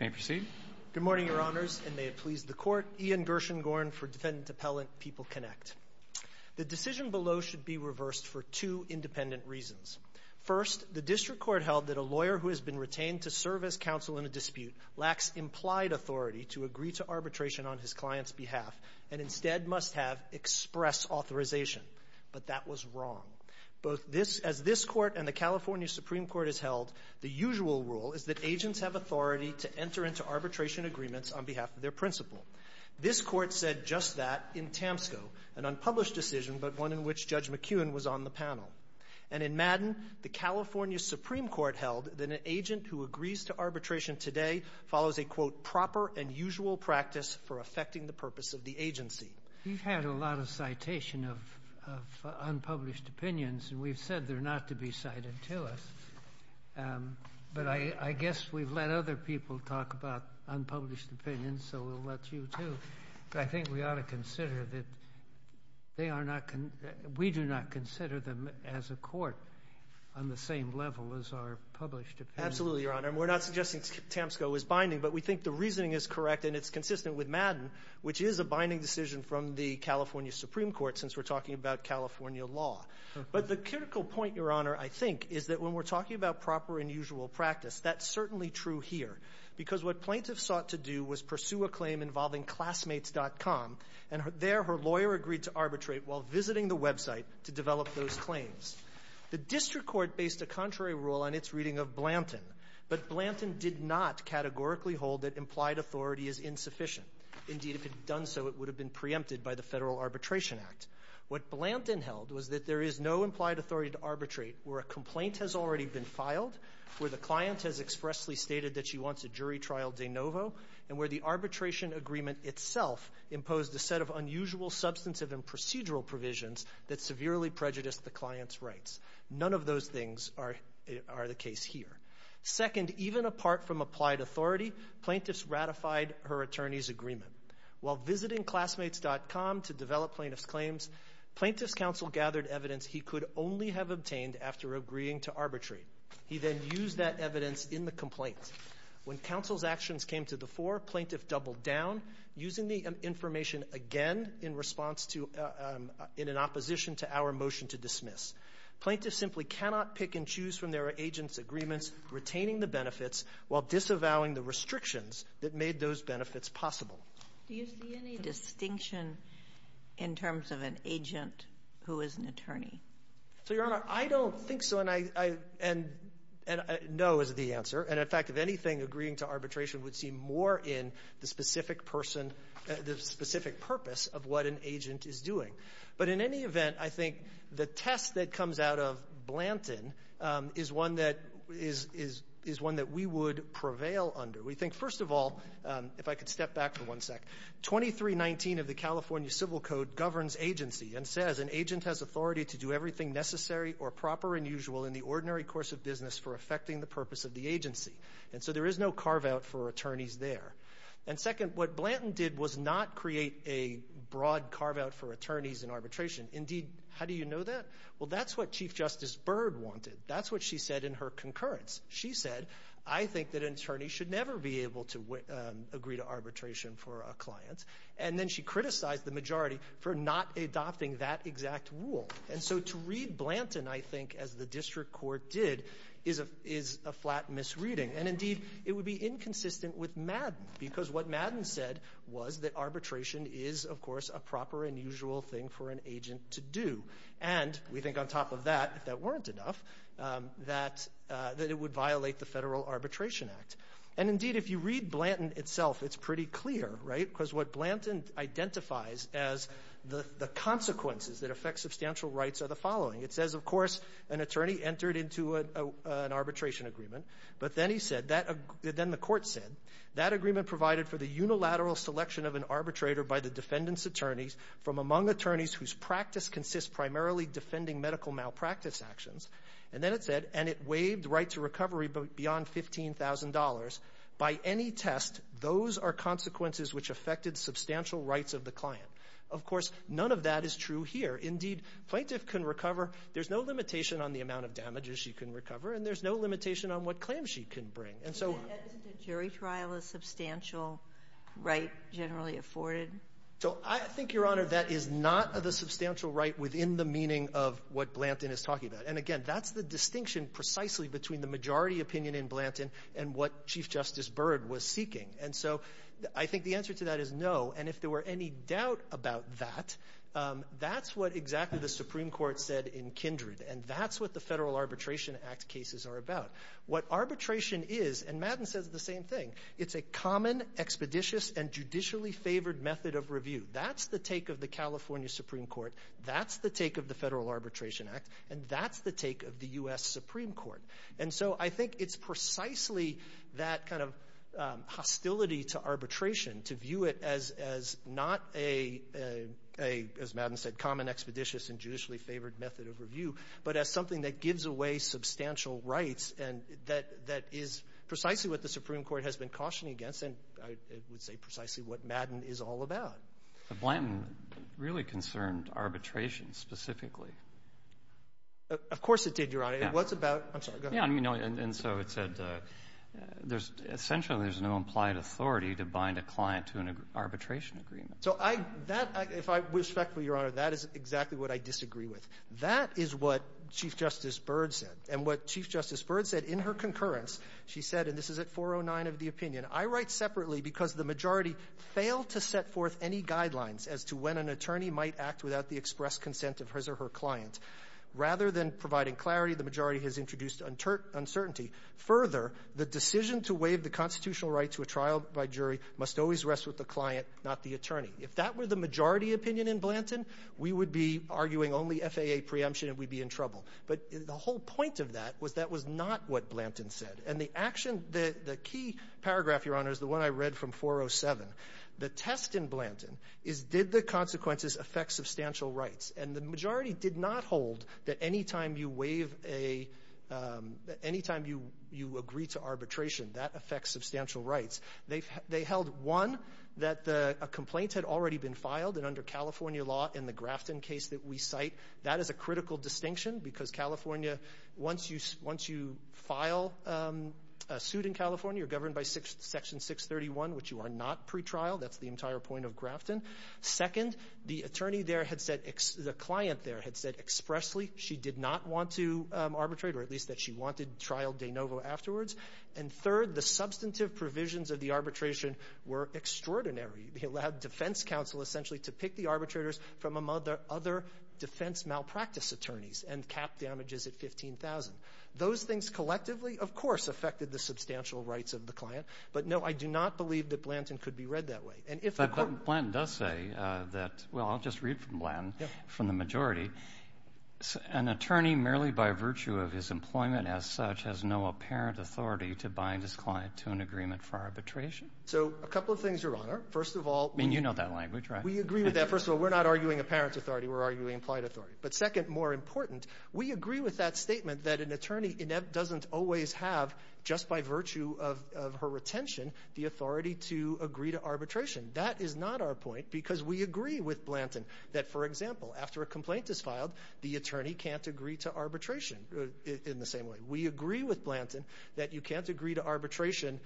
Good morning, Your Honors, and may it please the Court. Ian Gershengorn for Defendant Appellant, PeopleConnect. The decision below should be reversed for two independent reasons. First, the District Court held that a lawyer who has been retained to serve as counsel in a dispute lacks implied authority to agree to arbitration on his client's behalf and instead must have express authorization. But that was wrong. As this Court and the California Supreme Court has held, the usual rule is that agents have authority to enter into arbitration agreements on behalf of their principal. This Court said just that in Tamsco, an unpublished decision but one in which Judge McKeown was on the panel. And in Madden, the California Supreme Court held that an agent who agrees to arbitration today follows a, quote, proper and usual practice for affecting the purpose of the agency. We've had a lot of citation of unpublished opinions, and we've said they're not to be dismissed. But I guess we've let other people talk about unpublished opinions, so we'll let you, too. But I think we ought to consider that they are not, we do not consider them as a court on the same level as our published opinion. Absolutely, Your Honor. And we're not suggesting Tamsco is binding, but we think the reasoning is correct and it's consistent with Madden, which is a binding decision from the California Supreme Court since we're talking about California law. But the critical point, Your Honor, I think when we're talking about proper and usual practice, that's certainly true here. Because what plaintiffs sought to do was pursue a claim involving Classmates.com, and there her lawyer agreed to arbitrate while visiting the website to develop those claims. The district court based a contrary rule on its reading of Blanton, but Blanton did not categorically hold that implied authority is insufficient. Indeed, if it had done so, it would have been preempted by the Federal Arbitration Act. What Blanton held was that there is no implied authority to arbitrate where a complaint has already been filed, where the client has expressly stated that she wants a jury trial de novo, and where the arbitration agreement itself imposed a set of unusual substantive and procedural provisions that severely prejudiced the client's rights. None of those things are the case here. Second, even apart from applied authority, plaintiffs ratified her attorney's agreement. While visiting Classmates.com to develop plaintiff's claims, plaintiff's counsel gathered evidence he could only have obtained after agreeing to arbitrate. He then used that evidence in the complaint. When counsel's actions came to the fore, plaintiff doubled down, using the information again in response to — in an opposition to our motion to dismiss. Plaintiffs simply cannot pick and choose from their agent's agreements, retaining the benefits while disavowing the restrictions that made those benefits possible. Do you see any distinction in terms of an agent who is an attorney? So, Your Honor, I don't think so, and I — and no is the answer. And, in fact, if anything, agreeing to arbitration would seem more in the specific person — the specific purpose of what an agent is doing. But in any event, I think the test that comes out of Blanton is one that — is one that we would prevail under. We think, first of all, if I could step back for one sec, 2319 of the California Civil Code governs agency and says an agent has authority to do everything necessary or proper and usual in the ordinary course of business for affecting the purpose of the agency. And so there is no carve-out for attorneys there. And, second, what Blanton did was not create a broad carve-out for attorneys in arbitration. Indeed, how do you know that? Well, that's what Chief Justice Byrd wanted. That's what she said in her concurrence. She said, I think that an attorney should never be able to agree to arbitration for a client. And then she criticized the majority for not adopting that exact rule. And so to read Blanton, I think, as the district court did, is a — is a flat misreading. And, indeed, it would be inconsistent with Madden because what Madden said was that arbitration is, of course, a proper and usual thing for an agent to do. And we think on top of that, if that weren't enough, that — that it would violate the Federal Arbitration Act. And, indeed, if you read Blanton itself, it's pretty clear, right? Because what Blanton identifies as the consequences that affect substantial rights are the following. It says, of course, an attorney entered into an arbitration agreement. But then he said — then the court said, that agreement provided for the unilateral selection of an arbitrator by the defendant's attorneys from among attorneys whose practice consists primarily defending medical malpractice actions. And then it said — and it waived the right to recovery beyond $15,000. By any test, those are consequences which affected substantial rights of the client. Of course, none of that is true here. Indeed, plaintiff can recover. There's no limitation on the amount of damages she can recover, and there's no limitation on what claims she can bring. And so — Sotomayor, isn't a jury trial a substantial right generally afforded? So I think, Your Honor, that is not the substantial right within the meaning of what between the majority opinion in Blanton and what Chief Justice Byrd was seeking. And so I think the answer to that is no. And if there were any doubt about that, that's what exactly the Supreme Court said in Kindred. And that's what the Federal Arbitration Act cases are about. What arbitration is — and Madden says the same thing — it's a common, expeditious, and judicially favored method of review. That's the take of the California Supreme Court. That's the take of the Federal Arbitration Act. And that's the take of the U.S. Supreme Court. And so I think it's precisely that kind of hostility to arbitration, to view it as not a, as Madden said, common, expeditious, and judicially favored method of review, but as something that gives away substantial rights and that is precisely what the Supreme Court has been cautioning against and, I would say, precisely what Madden is all about. But Blanton really concerned arbitration specifically. Of course it did, Your Honor. Yeah. It was about — I'm sorry. Go ahead. Yeah. I mean, no. And so it said there's — essentially there's no implied authority to bind a client to an arbitration agreement. So I — that — if I'm respectful, Your Honor, that is exactly what I disagree with. That is what Chief Justice Byrd said. And what Chief Justice Byrd said in her concurrence, she said — and this is at 409 of the opinion — I write separately because the majority failed to set forth any guidelines as to when an attorney might act without the express consent of his or her client. Rather than providing clarity, the majority has introduced uncertainty. Further, the decision to waive the constitutional right to a trial by jury must always rest with the client, not the attorney. If that were the majority opinion in Blanton, we would be arguing only FAA preemption and we'd be in trouble. But the whole point of that was that was not what Blanton said. And the action — the key paragraph, Your Honor, is the one I read from 407. The test in Blanton is did the consequences affect substantial rights? And the majority did not hold that any time you waive a — that any time you agree to arbitration, that affects substantial rights. They held, one, that a complaint had already been filed. And under California law, in the Grafton case that we cite, that is a critical distinction because California — once you file a suit in California, you're governed by Section 631, which you are not pretrial. That's the entire point of Grafton. Second, the attorney there had said — the client there had said expressly she did not want to arbitrate, or at least that she wanted trial de novo afterwards. And third, the substantive provisions of the arbitration were extraordinary. It allowed defense counsel essentially to pick the arbitrators from among the other defense malpractice attorneys and cap damages at 15,000. Those things collectively, of course, affected the substantial rights of the client. But, no, I do not believe that Blanton could be read that way. And if the court — But Blanton does say that — well, I'll just read from Blanton — Yeah. — from the majority, an attorney merely by virtue of his employment as such has no apparent authority to bind his client to an agreement for arbitration. So a couple of things, Your Honor. First of all — I mean, you know that language, right? We agree with that. First of all, we're not arguing apparent authority. We're arguing implied authority. But second, more important, we agree with that statement that an attorney doesn't always have, just by virtue of her retention, the authority to agree to arbitration. That is not our point because we agree with Blanton that, for example, after a complaint is filed, the attorney can't agree to arbitration in the same way. We agree with Blanton that you can't agree to arbitration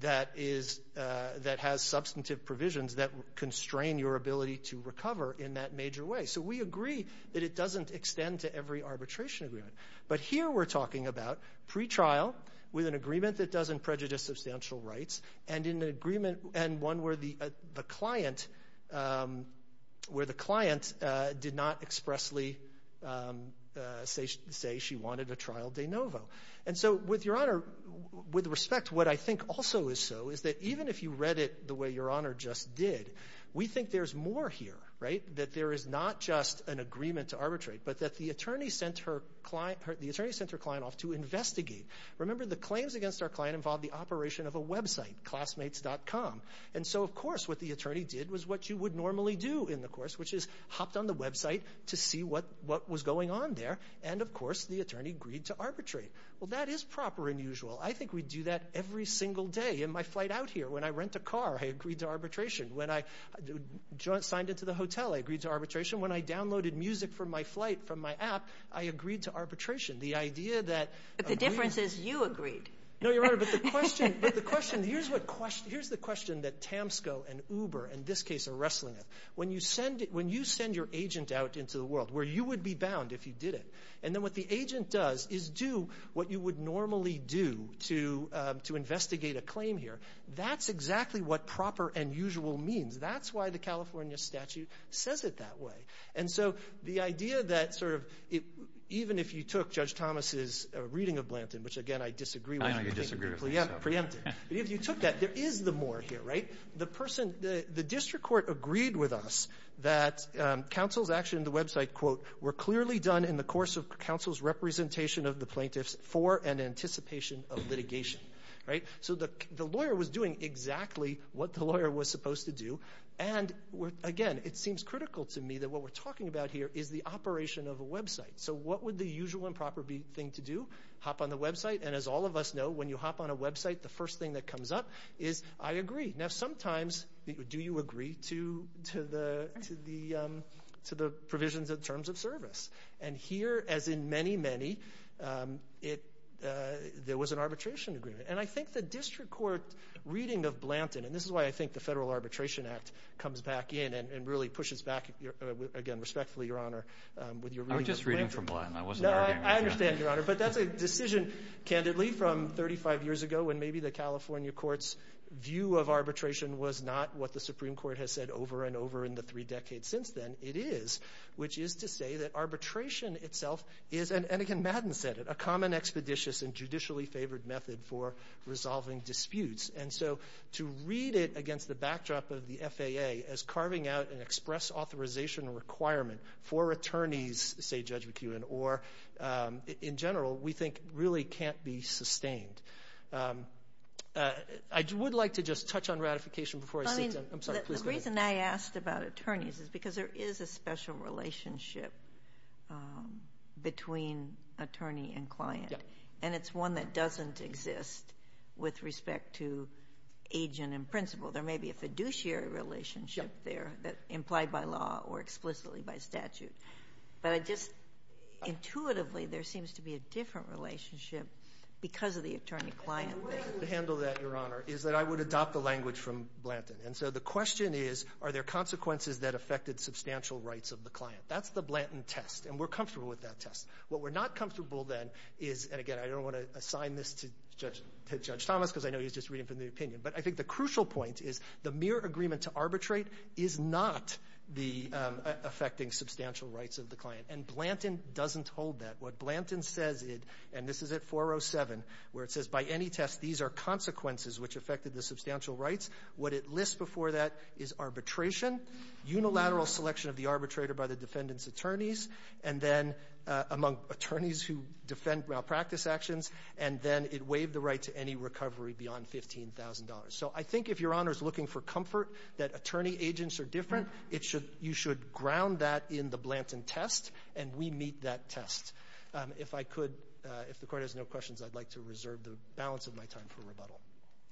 that is — that has substantive provisions that constrain your ability to recover in that major way. So we agree that it doesn't extend to every arbitration agreement. But here we're talking about pretrial with an agreement that doesn't prejudice substantial rights and in an agreement — and one where the client — where the client did not expressly say she wanted a trial de novo. And so with Your Honor, with respect, what I think also is so is that even if you read it the way Your Honor just did, we think there's more here, right? That there is not just an agreement to arbitrate, but that the attorney sent her client — the attorney sent her client off to investigate. Remember, the claims against our client involved the operation of a website, classmates.com. And so, of course, what the attorney did was what you would normally do in the course, which is hopped on the website to see what was going on there. And, of course, the attorney agreed to arbitrate. Well, that is proper and usual. I think we do that every single day. In my flight out here, when I rent a car, I agreed to arbitration. When I signed into the hotel, I agreed to arbitration. When I downloaded music for my flight from my app, I agreed to arbitration. The idea that — But the difference is you agreed. No, Your Honor, but the question — but the question — here's what — here's the question that TAMSCO and Uber, in this case, are wrestling with. When you send — when you send your agent out into the world, where you would be bound if you did it, and then what the agent does is do what you would normally do to investigate a claim here, that's exactly what proper and usual means. That's why the California statute says it that way. And so the idea that sort of — even if you took Judge Thomas's reading of Blanton, which, again, I disagree with — I know you disagree with me, so — Yeah, preempted. But if you took that, there is the more here, right? The person — the district court agreed with us that counsel's action on the website, quote, were clearly done in the course of counsel's representation of the plaintiffs for and anticipation of litigation, right? So the lawyer was doing exactly what the lawyer was supposed to do. And, again, it seems critical to me that what we're talking about here is the operation of a website. So what would the usual and proper thing to do? Hop on the website, and as all of us know, when you hop on a website, the first thing that comes up is, I agree. Now, sometimes, do you agree to the provisions of terms of service? And here, as in many, many, there was an arbitration agreement. And I think the district court reading of Blanton — and this is why I think the Federal Arbitration Act comes back in and really pushes back, again, respectfully, Your Honor, with your reading of Blanton. I was just reading from Blanton. I wasn't arguing with you, Your Honor. No, I understand, Your Honor. But that's a decision, candidly, from 35 years ago when maybe the California court's view of arbitration was not what the Supreme Court has said over and over in the three decades since then. It is, which is to say that arbitration itself is — and again, Madden said it — a common, expeditious, and judicially favored method for resolving disputes. And so, to read it against the backdrop of the FAA as carving out an express authorization requirement for attorneys, say Judge McEwen, or in general, we think really can't be sustained. I would like to just touch on ratification before I — I mean — I'm sorry, please go ahead. The reason I asked about attorneys is because there is a special relationship between attorney and client. Yeah. And it's one that doesn't exist with respect to agent and principal. There may be a fiduciary relationship there that — Yeah. — implied by law or explicitly by statute. But I just — intuitively, there seems to be a different relationship because of the attorney-client relationship. The way to handle that, Your Honor, is that I would adopt the language from Blanton. And so the question is, are there consequences that affected substantial rights of the client? That's the Blanton test. And we're comfortable with that test. What we're not comfortable, then, is — and again, I don't want to assign this to Judge Thomas because I know he's just reading from the opinion. But I think the crucial point is the mere agreement to arbitrate is not the — affecting substantial rights of the client. And Blanton doesn't hold that. What Blanton says, and this is at 407, where it says, by any test, these are consequences which affected the substantial rights. What it lists before that is arbitration, unilateral selection of the arbitrator by the defendant's attorneys, and then among attorneys who defend malpractice actions, and then it waived the right to any recovery beyond $15,000. So I think if Your Honor is looking for comfort that attorney-agents are different, it should — you should ground that in the Blanton test, and we meet that test. If I could — if the Court has no questions, I'd like to reserve the balance of my time for rebuttal.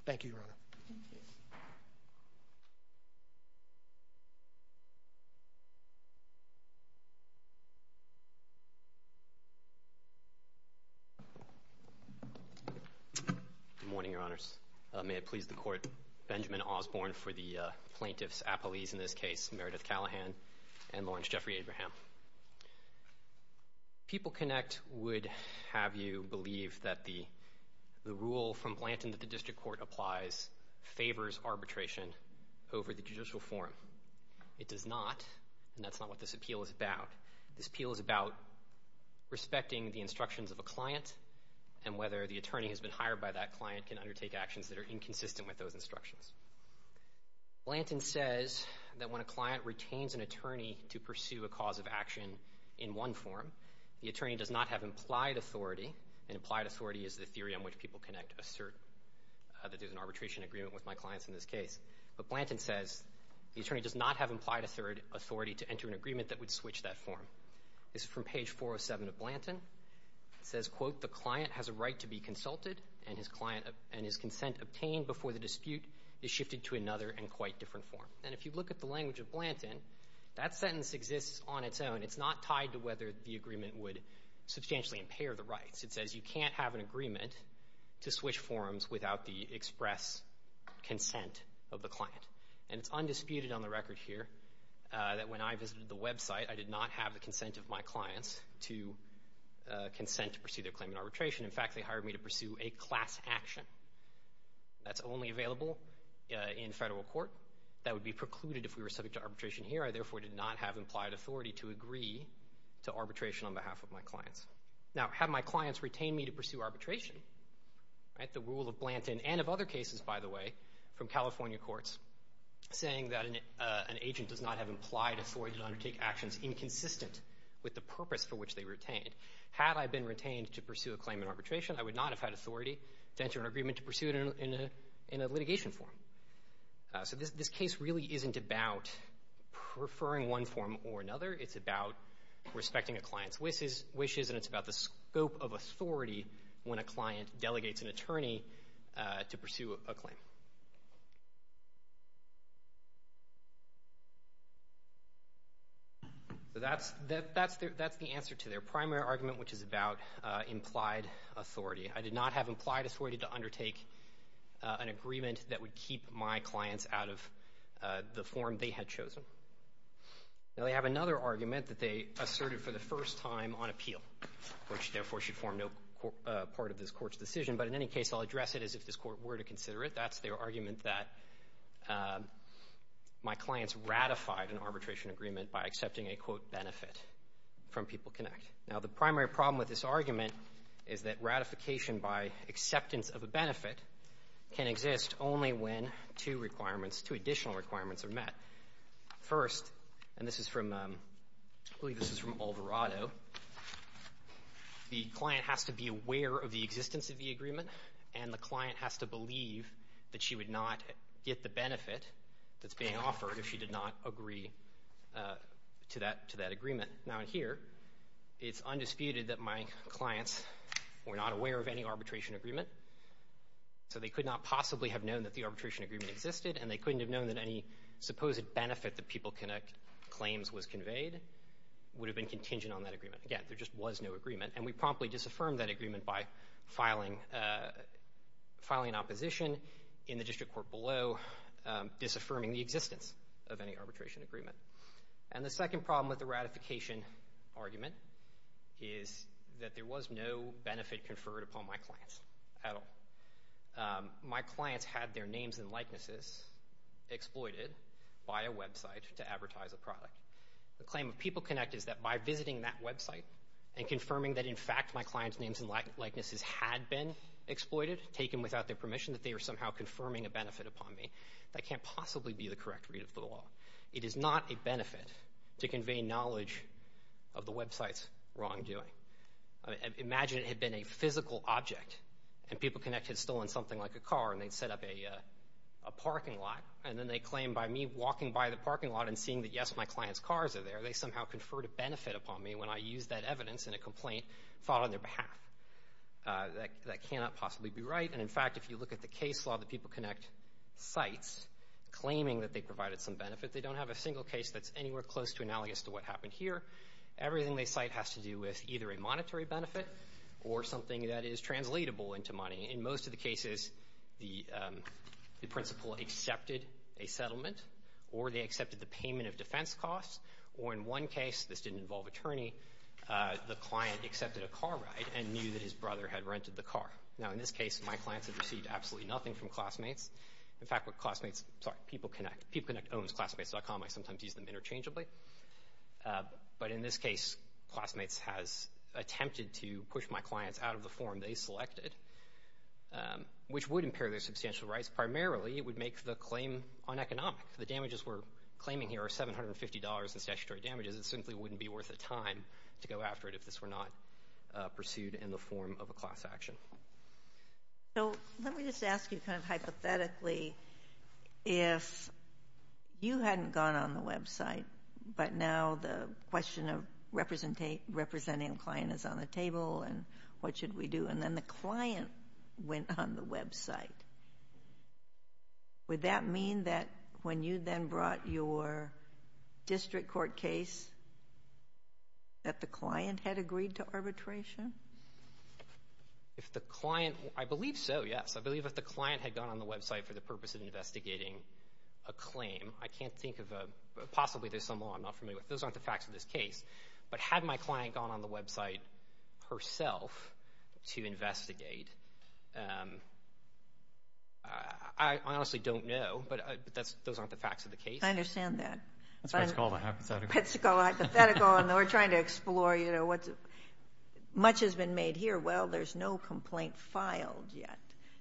Thank you, Your Honor. Good morning, Your Honors. May it please the Court, Benjamin Osborne for the plaintiffs' apologies in this case, Meredith Callahan and Lawrence Jeffrey Abraham. PeopleConnect would have you believe that the rule from Blanton that the district court applies favors arbitration over the judicial forum. It does not, and that's not what this appeal is about. This appeal is about respecting the instructions of a client and whether the attorney who has been hired by that client can undertake actions that are inconsistent with those instructions. Blanton says that when a client retains an attorney to pursue a cause of action in one forum, the attorney does not have implied authority — and implied authority is the theory on which PeopleConnect assert that there's an arbitration agreement with my clients in this case. But Blanton says the attorney does not have implied authority to enter an agreement that would switch that forum. This is from page 407 of Blanton. It says, quote, the client has a right to be consulted, and his consent obtained before the dispute is shifted to another and quite different forum. And if you look at the language of Blanton, that sentence exists on its own. It's not tied to whether the agreement would substantially impair the rights. It says you can't have an agreement to switch forums without the express consent of the client. And it's undisputed on the record here that when I visited the website, I did not have the consent of my clients to consent to pursue their claim in arbitration. In fact, they hired me to pursue a class action. That's only available in federal court. That would be precluded if we were subject to arbitration here. I therefore did not have implied authority to agree to arbitration on behalf of my clients. Now, had my clients retained me to pursue arbitration, right, the rule of Blanton and of other cases, by the way, from California courts, saying that an agent does not have implied authority to undertake actions inconsistent with the purpose for which they retained, had I been retained to pursue a claim in arbitration, I would not have had authority to enter an agreement to pursue it in a litigation forum. So this case really isn't about preferring one forum or another. It's about respecting a client's wishes, and it's about the scope of authority when a client delegates an attorney to pursue a claim. So that's the answer to their primary argument, which is about implied authority. I did not have implied authority to undertake an agreement that would keep my clients out of the forum they had chosen. Now, they have another argument that they asserted for the first time on appeal, which therefore should form no part of this court's decision. But in any case, I'll address it as if this court were to consider it. That's their argument that my clients ratified an arbitration agreement by accepting a, quote, benefit from PeopleConnect. Now, the primary problem with this argument is that ratification by acceptance of a benefit can exist only when two requirements, two additional requirements are met. First, and this is from, I believe this is from Alvarado, the client has to be aware of the existence of the agreement, and the client has to believe that she would not get the benefit that's being offered if she did not agree to that agreement. Now, in here, it's undisputed that my clients were not aware of any arbitration agreement. So they could not possibly have known that the arbitration agreement existed, and they couldn't have known that any supposed benefit that PeopleConnect claims was conveyed would have been contingent on that agreement. Again, there just was no agreement. And we promptly disaffirmed that agreement by filing an opposition in the district court below, disaffirming the existence of any arbitration agreement. And the second problem with the ratification argument is that there was no benefit conferred upon my clients at all. My clients had their names and likenesses exploited by a website to advertise a product. The claim of PeopleConnect is that by visiting that website and confirming that, in fact, my clients' names and likenesses had been exploited, taken without their permission, that they are somehow confirming a benefit upon me, that can't possibly be the correct read of the law. It is not a benefit to convey knowledge of the website's wrongdoing. Imagine it had been a physical object, and PeopleConnect had stolen something like a car and they'd set up a parking lot. And then they claim by me walking by the parking lot and seeing that, yes, my client's cars are there, they somehow conferred a benefit upon me when I used that evidence in a complaint filed on their behalf. That cannot possibly be right. And in fact, if you look at the case law that PeopleConnect cites, claiming that they provided some benefit, they don't have a single case that's anywhere close to analogous to what happened here. Everything they cite has to do with either a monetary benefit or something that is translatable into money. In most of the cases, the principal accepted a settlement, or they accepted the payment of defense costs, or in one case, this didn't involve attorney, the client accepted a car ride and knew that his brother had rented the car. Now, in this case, my clients have received absolutely nothing from classmates. In fact, what classmates, sorry, PeopleConnect, PeopleConnect owns Classmates.com, I sometimes use them interchangeably. But in this case, Classmates has attempted to push my clients out of the form they selected, which would impair their substantial rights, primarily it would make the claim uneconomic. The damages we're claiming here are $750 in statutory damages, it simply wouldn't be worth the time to go after it if this were not pursued in the form of a class action. So, let me just ask you kind of hypothetically, if you hadn't gone on the website, but now the question of representing a client is on the table, and what should we do? And then the client went on the website, would that mean that when you then brought your district court case, that the client had agreed to arbitration? If the client, I believe so, yes. I believe if the client had gone on the website for the purpose of investigating a claim, I can't think of a, possibly there's some law I'm not familiar with, those aren't the facts of this case. But had my client gone on the website herself to investigate, I honestly don't know, but those aren't the facts of the case. I understand that. That's what's called a hypothetical. That's what's called a hypothetical, and we're trying to explore, you know, what's, much has been made here. Well, there's no complaint filed yet.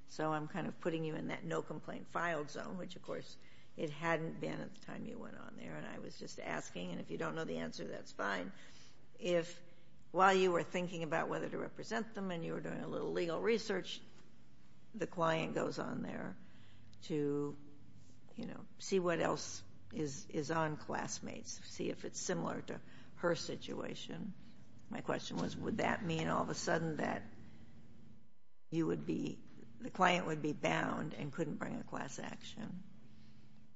So I'm kind of putting you in that no complaint filed zone, which of course, it hadn't been at the time you went on there, and I was just asking, and if you don't know the answer, that's fine. If while you were thinking about whether to represent them and you were doing a little legal research, the client goes on there to, you know, see what else is on classmates, see if it's similar to her situation. My question was, would that mean all of a sudden that you would be, the client would be bound and couldn't bring a class action?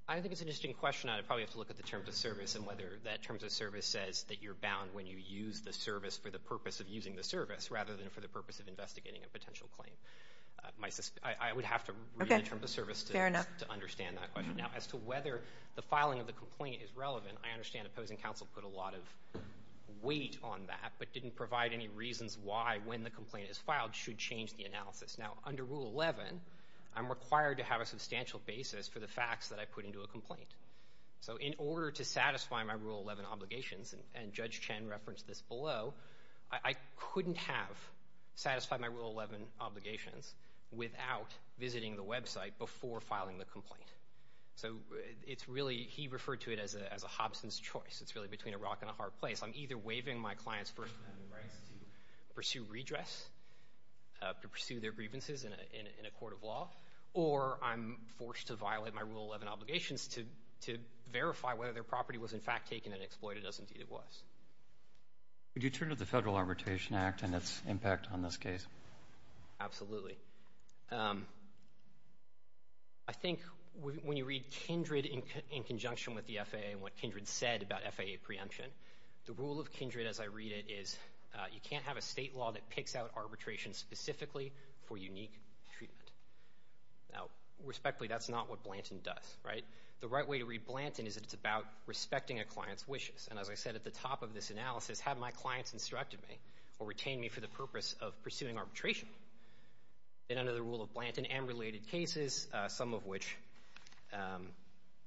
I think it's an interesting question. I'd probably have to look at the terms of service and whether that terms of service says that you're bound when you use the service for the purpose of using the service rather than for the purpose of investigating a potential claim. I would have to read the terms of service to understand that question. Now as to whether the filing of the complaint is relevant, I understand opposing counsel put a lot of weight on that but didn't provide any reasons why when the complaint is filed should change the analysis. Now under Rule 11, I'm required to have a substantial basis for the facts that I put into a complaint. So in order to satisfy my Rule 11 obligations, and Judge Chen referenced this below, I couldn't have satisfied my Rule 11 obligations without visiting the website before filing the complaint. So it's really, he referred to it as a Hobson's choice. It's really between a rock and a hard place. I'm either waiving my client's first amendment rights to pursue redress, to pursue their grievances in a court of law, or I'm forced to violate my Rule 11 obligations to verify whether their property was in fact taken and exploited as indeed it was. Would you turn to the Federal Arbitration Act and its impact on this case? Absolutely. I think when you read Kindred in conjunction with the FAA and what Kindred said about FAA preemption, the rule of Kindred as I read it is you can't have a state law that picks out arbitration specifically for unique treatment. Now, respectfully, that's not what Blanton does, right? The right way to read Blanton is that it's about respecting a client's wishes, and as I said at the top of this analysis, have my clients instructed me or retain me for the purpose of pursuing arbitration. And under the rule of Blanton and related cases, some of which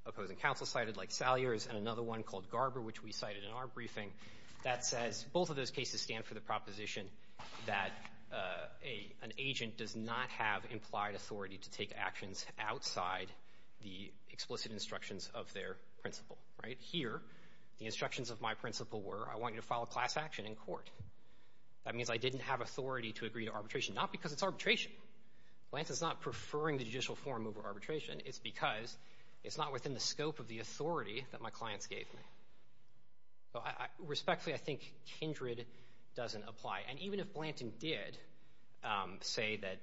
opposing counsel cited like Salyer's and another one called Garber, which we cited in our briefing, that says both of those cases stand for the proposition that an agent does not have implied authority to take actions outside the explicit instructions of their principle, right? Here, the instructions of my principle were, I want you to file a class action in court. That means I didn't have authority to agree to arbitration, not because it's arbitration. Blanton's not preferring the judicial form over arbitration. It's because it's not within the scope of the authority that my clients gave me. So, respectfully, I think Kindred doesn't apply. And even if Blanton did say that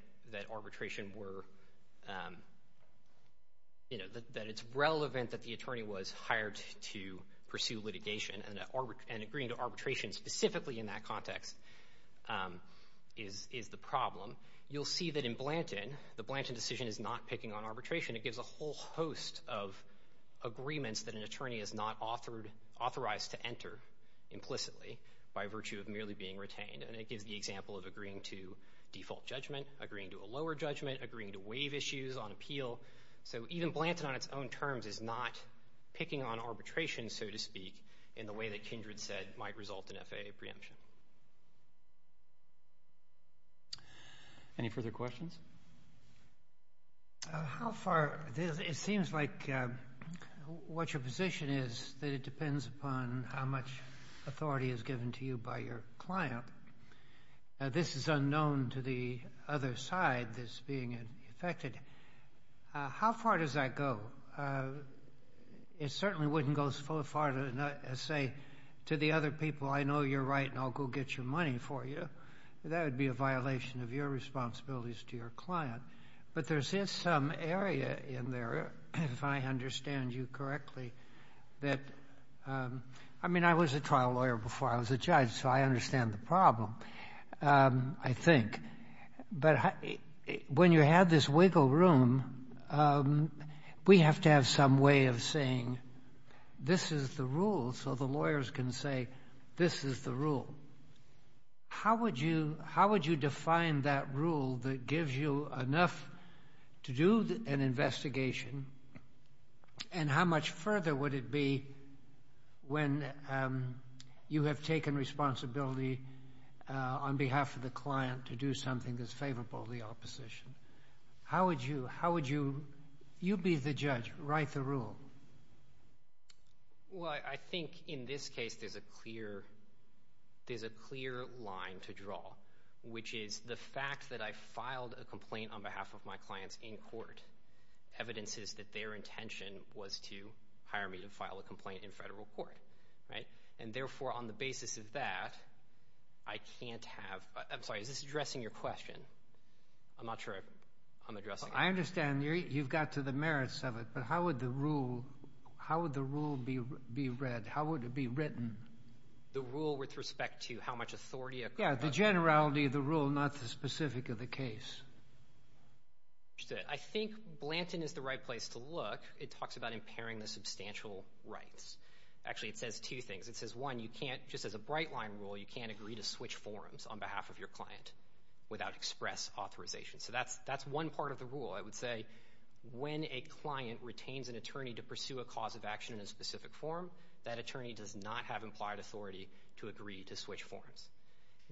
arbitration were—that it's relevant that the attorney was hired to pursue litigation, and agreeing to arbitration specifically in that context is the problem, you'll see that in Blanton, the Blanton decision is not picking on arbitration. It gives a whole host of agreements that an attorney is not authorized to enter implicitly by virtue of merely being retained. And it gives the example of agreeing to default judgment, agreeing to a lower judgment, agreeing to waive issues on appeal. So even Blanton, on its own terms, is not picking on arbitration, so to speak, in the way that Kindred said might result in FAA preemption. Any further questions? How far—it seems like what your position is that it depends upon how much authority is given to you by your client. Now, this is unknown to the other side that's being affected. How far does that go? It certainly wouldn't go so far as to say to the other people, I know you're right, and I'll go get your money for you. That would be a violation of your responsibilities to your client. But there's some area in there, if I understand you correctly, that—I mean, I was a trial lawyer before I was a judge, so I understand the problem, I think. But when you have this wiggle room, we have to have some way of saying, this is the rule, so the lawyers can say, this is the rule. How would you define that rule that gives you enough to do an investigation? And how much further would it be when you have taken responsibility on behalf of the client to do something that's favorable to the opposition? How would you—you be the judge, write the rule. Well, I think in this case there's a clear line to draw, which is the fact that I filed a complaint on behalf of my clients in court evidences that their intention was to hire me to file a complaint in federal court, right? And therefore, on the basis of that, I can't have—I'm sorry, is this addressing your question? I'm not sure I'm addressing it. I understand you've got to the merits of it, but how would the rule be read? How would it be written? The rule with respect to how much authority— Yeah, the generality of the rule, not the specific of the case. I think Blanton is the right place to look. It talks about impairing the substantial rights. Actually, it says two things. It says, one, you can't—just as a bright-line rule, you can't agree to switch forms on behalf of your client without express authorization. So that's one part of the rule. I would say when a client retains an attorney to pursue a cause of action in a specific form, that attorney does not have implied authority to agree to switch forms.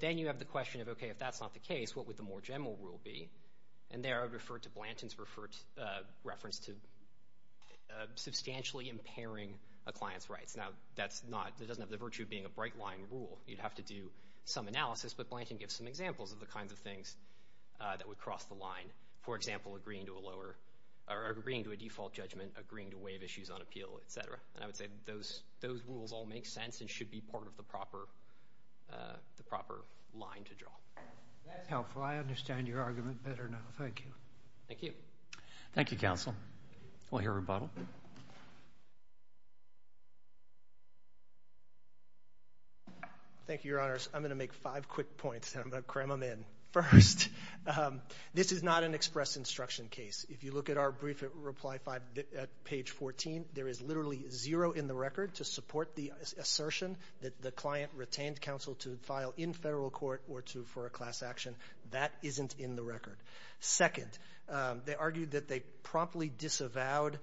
Then you have the question of, okay, if that's not the case, what would the more general rule be? And there, I would refer to Blanton's reference to substantially impairing a client's rights. Now, that's not—it doesn't have the virtue of being a bright-line rule. You'd have to do some analysis, but Blanton gives some examples of the kinds of things that would cross the line. For example, agreeing to a lower—or agreeing to a default judgment, agreeing to waive issues on appeal, et cetera. And I would say those rules all make sense and should be part of the proper—the proper line to draw. That's helpful. I understand your argument better now. Thank you. Thank you. Thank you, Counsel. We'll hear rebuttal. Thank you, Your Honors. I'm going to make five quick points, and I'm going to cram them in first. This is not an express instruction case. If you look at our brief reply at page 14, there is literally zero in the record to support the assertion that the client retained counsel to file in federal court or to—for a class action. That isn't in the record. Second, they argued that they promptly disavowed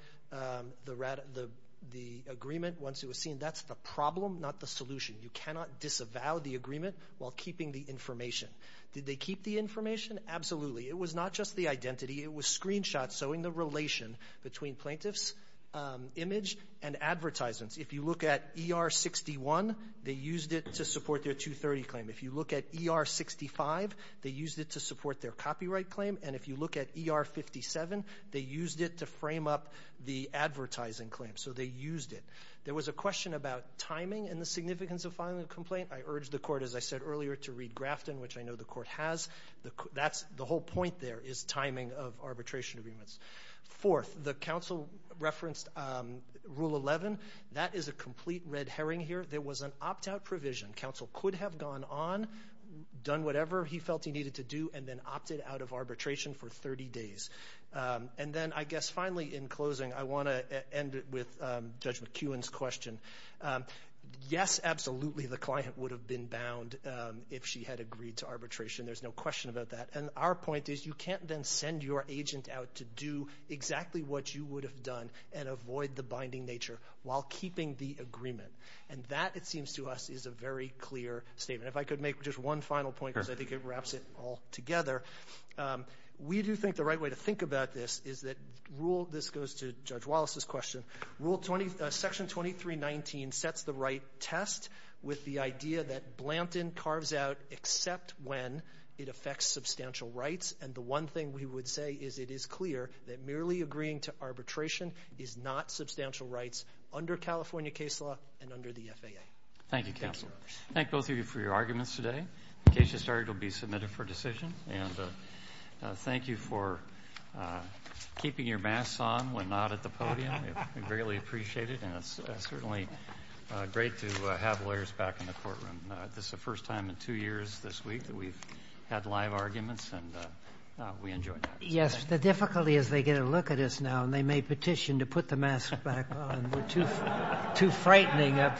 the agreement once it was seen. That's the problem, not the solution. You cannot disavow the agreement while keeping the information. Did they keep the information? Absolutely. It was not just the identity. It was screenshots showing the relation between plaintiff's image and advertisements. If you look at ER-61, they used it to support their 230 claim. If you look at ER-65, they used it to support their copyright claim. And if you look at ER-57, they used it to frame up the advertising claim. So they used it. There was a question about timing and the significance of filing a complaint. I urge the Court, as I said earlier, to read Grafton, which I know the Court has. The whole point there is timing of arbitration agreements. Fourth, the counsel referenced Rule 11. That is a complete red herring here. There was an opt-out provision. Counsel could have gone on, done whatever he felt he needed to do, and then opted out of arbitration for 30 days. And then, I guess, finally, in closing, I want to end with Judge McKeown's question. Yes, absolutely, the client would have been bound if she had agreed to arbitration. There's no question about that. And our point is, you can't then send your agent out to do exactly what you would have done and avoid the binding nature while keeping the agreement. And that, it seems to us, is a very clear statement. If I could make just one final point, because I think it wraps it all together. We do think the right way to think about this is that Rule — this goes to Judge Wallace's question — Rule 20 — Section 2319 sets the right test with the idea that Blanton carves out except when it affects substantial rights. And the one thing we would say is, it is clear that merely agreeing to arbitration is not substantial rights under California case law and under the FAA. Thank you, counsel. Thank both of you for your arguments today. The case has started. It will be submitted for decision. And thank you for keeping your masks on when not at the podium. We greatly appreciate it, and it's certainly great to have lawyers back in the courtroom. This is the first time in two years this week that we've had live arguments, and we enjoyed that. Yes. The difficulty is they get a look at us now, and they may petition to put the masks back on. We're too frightening up here.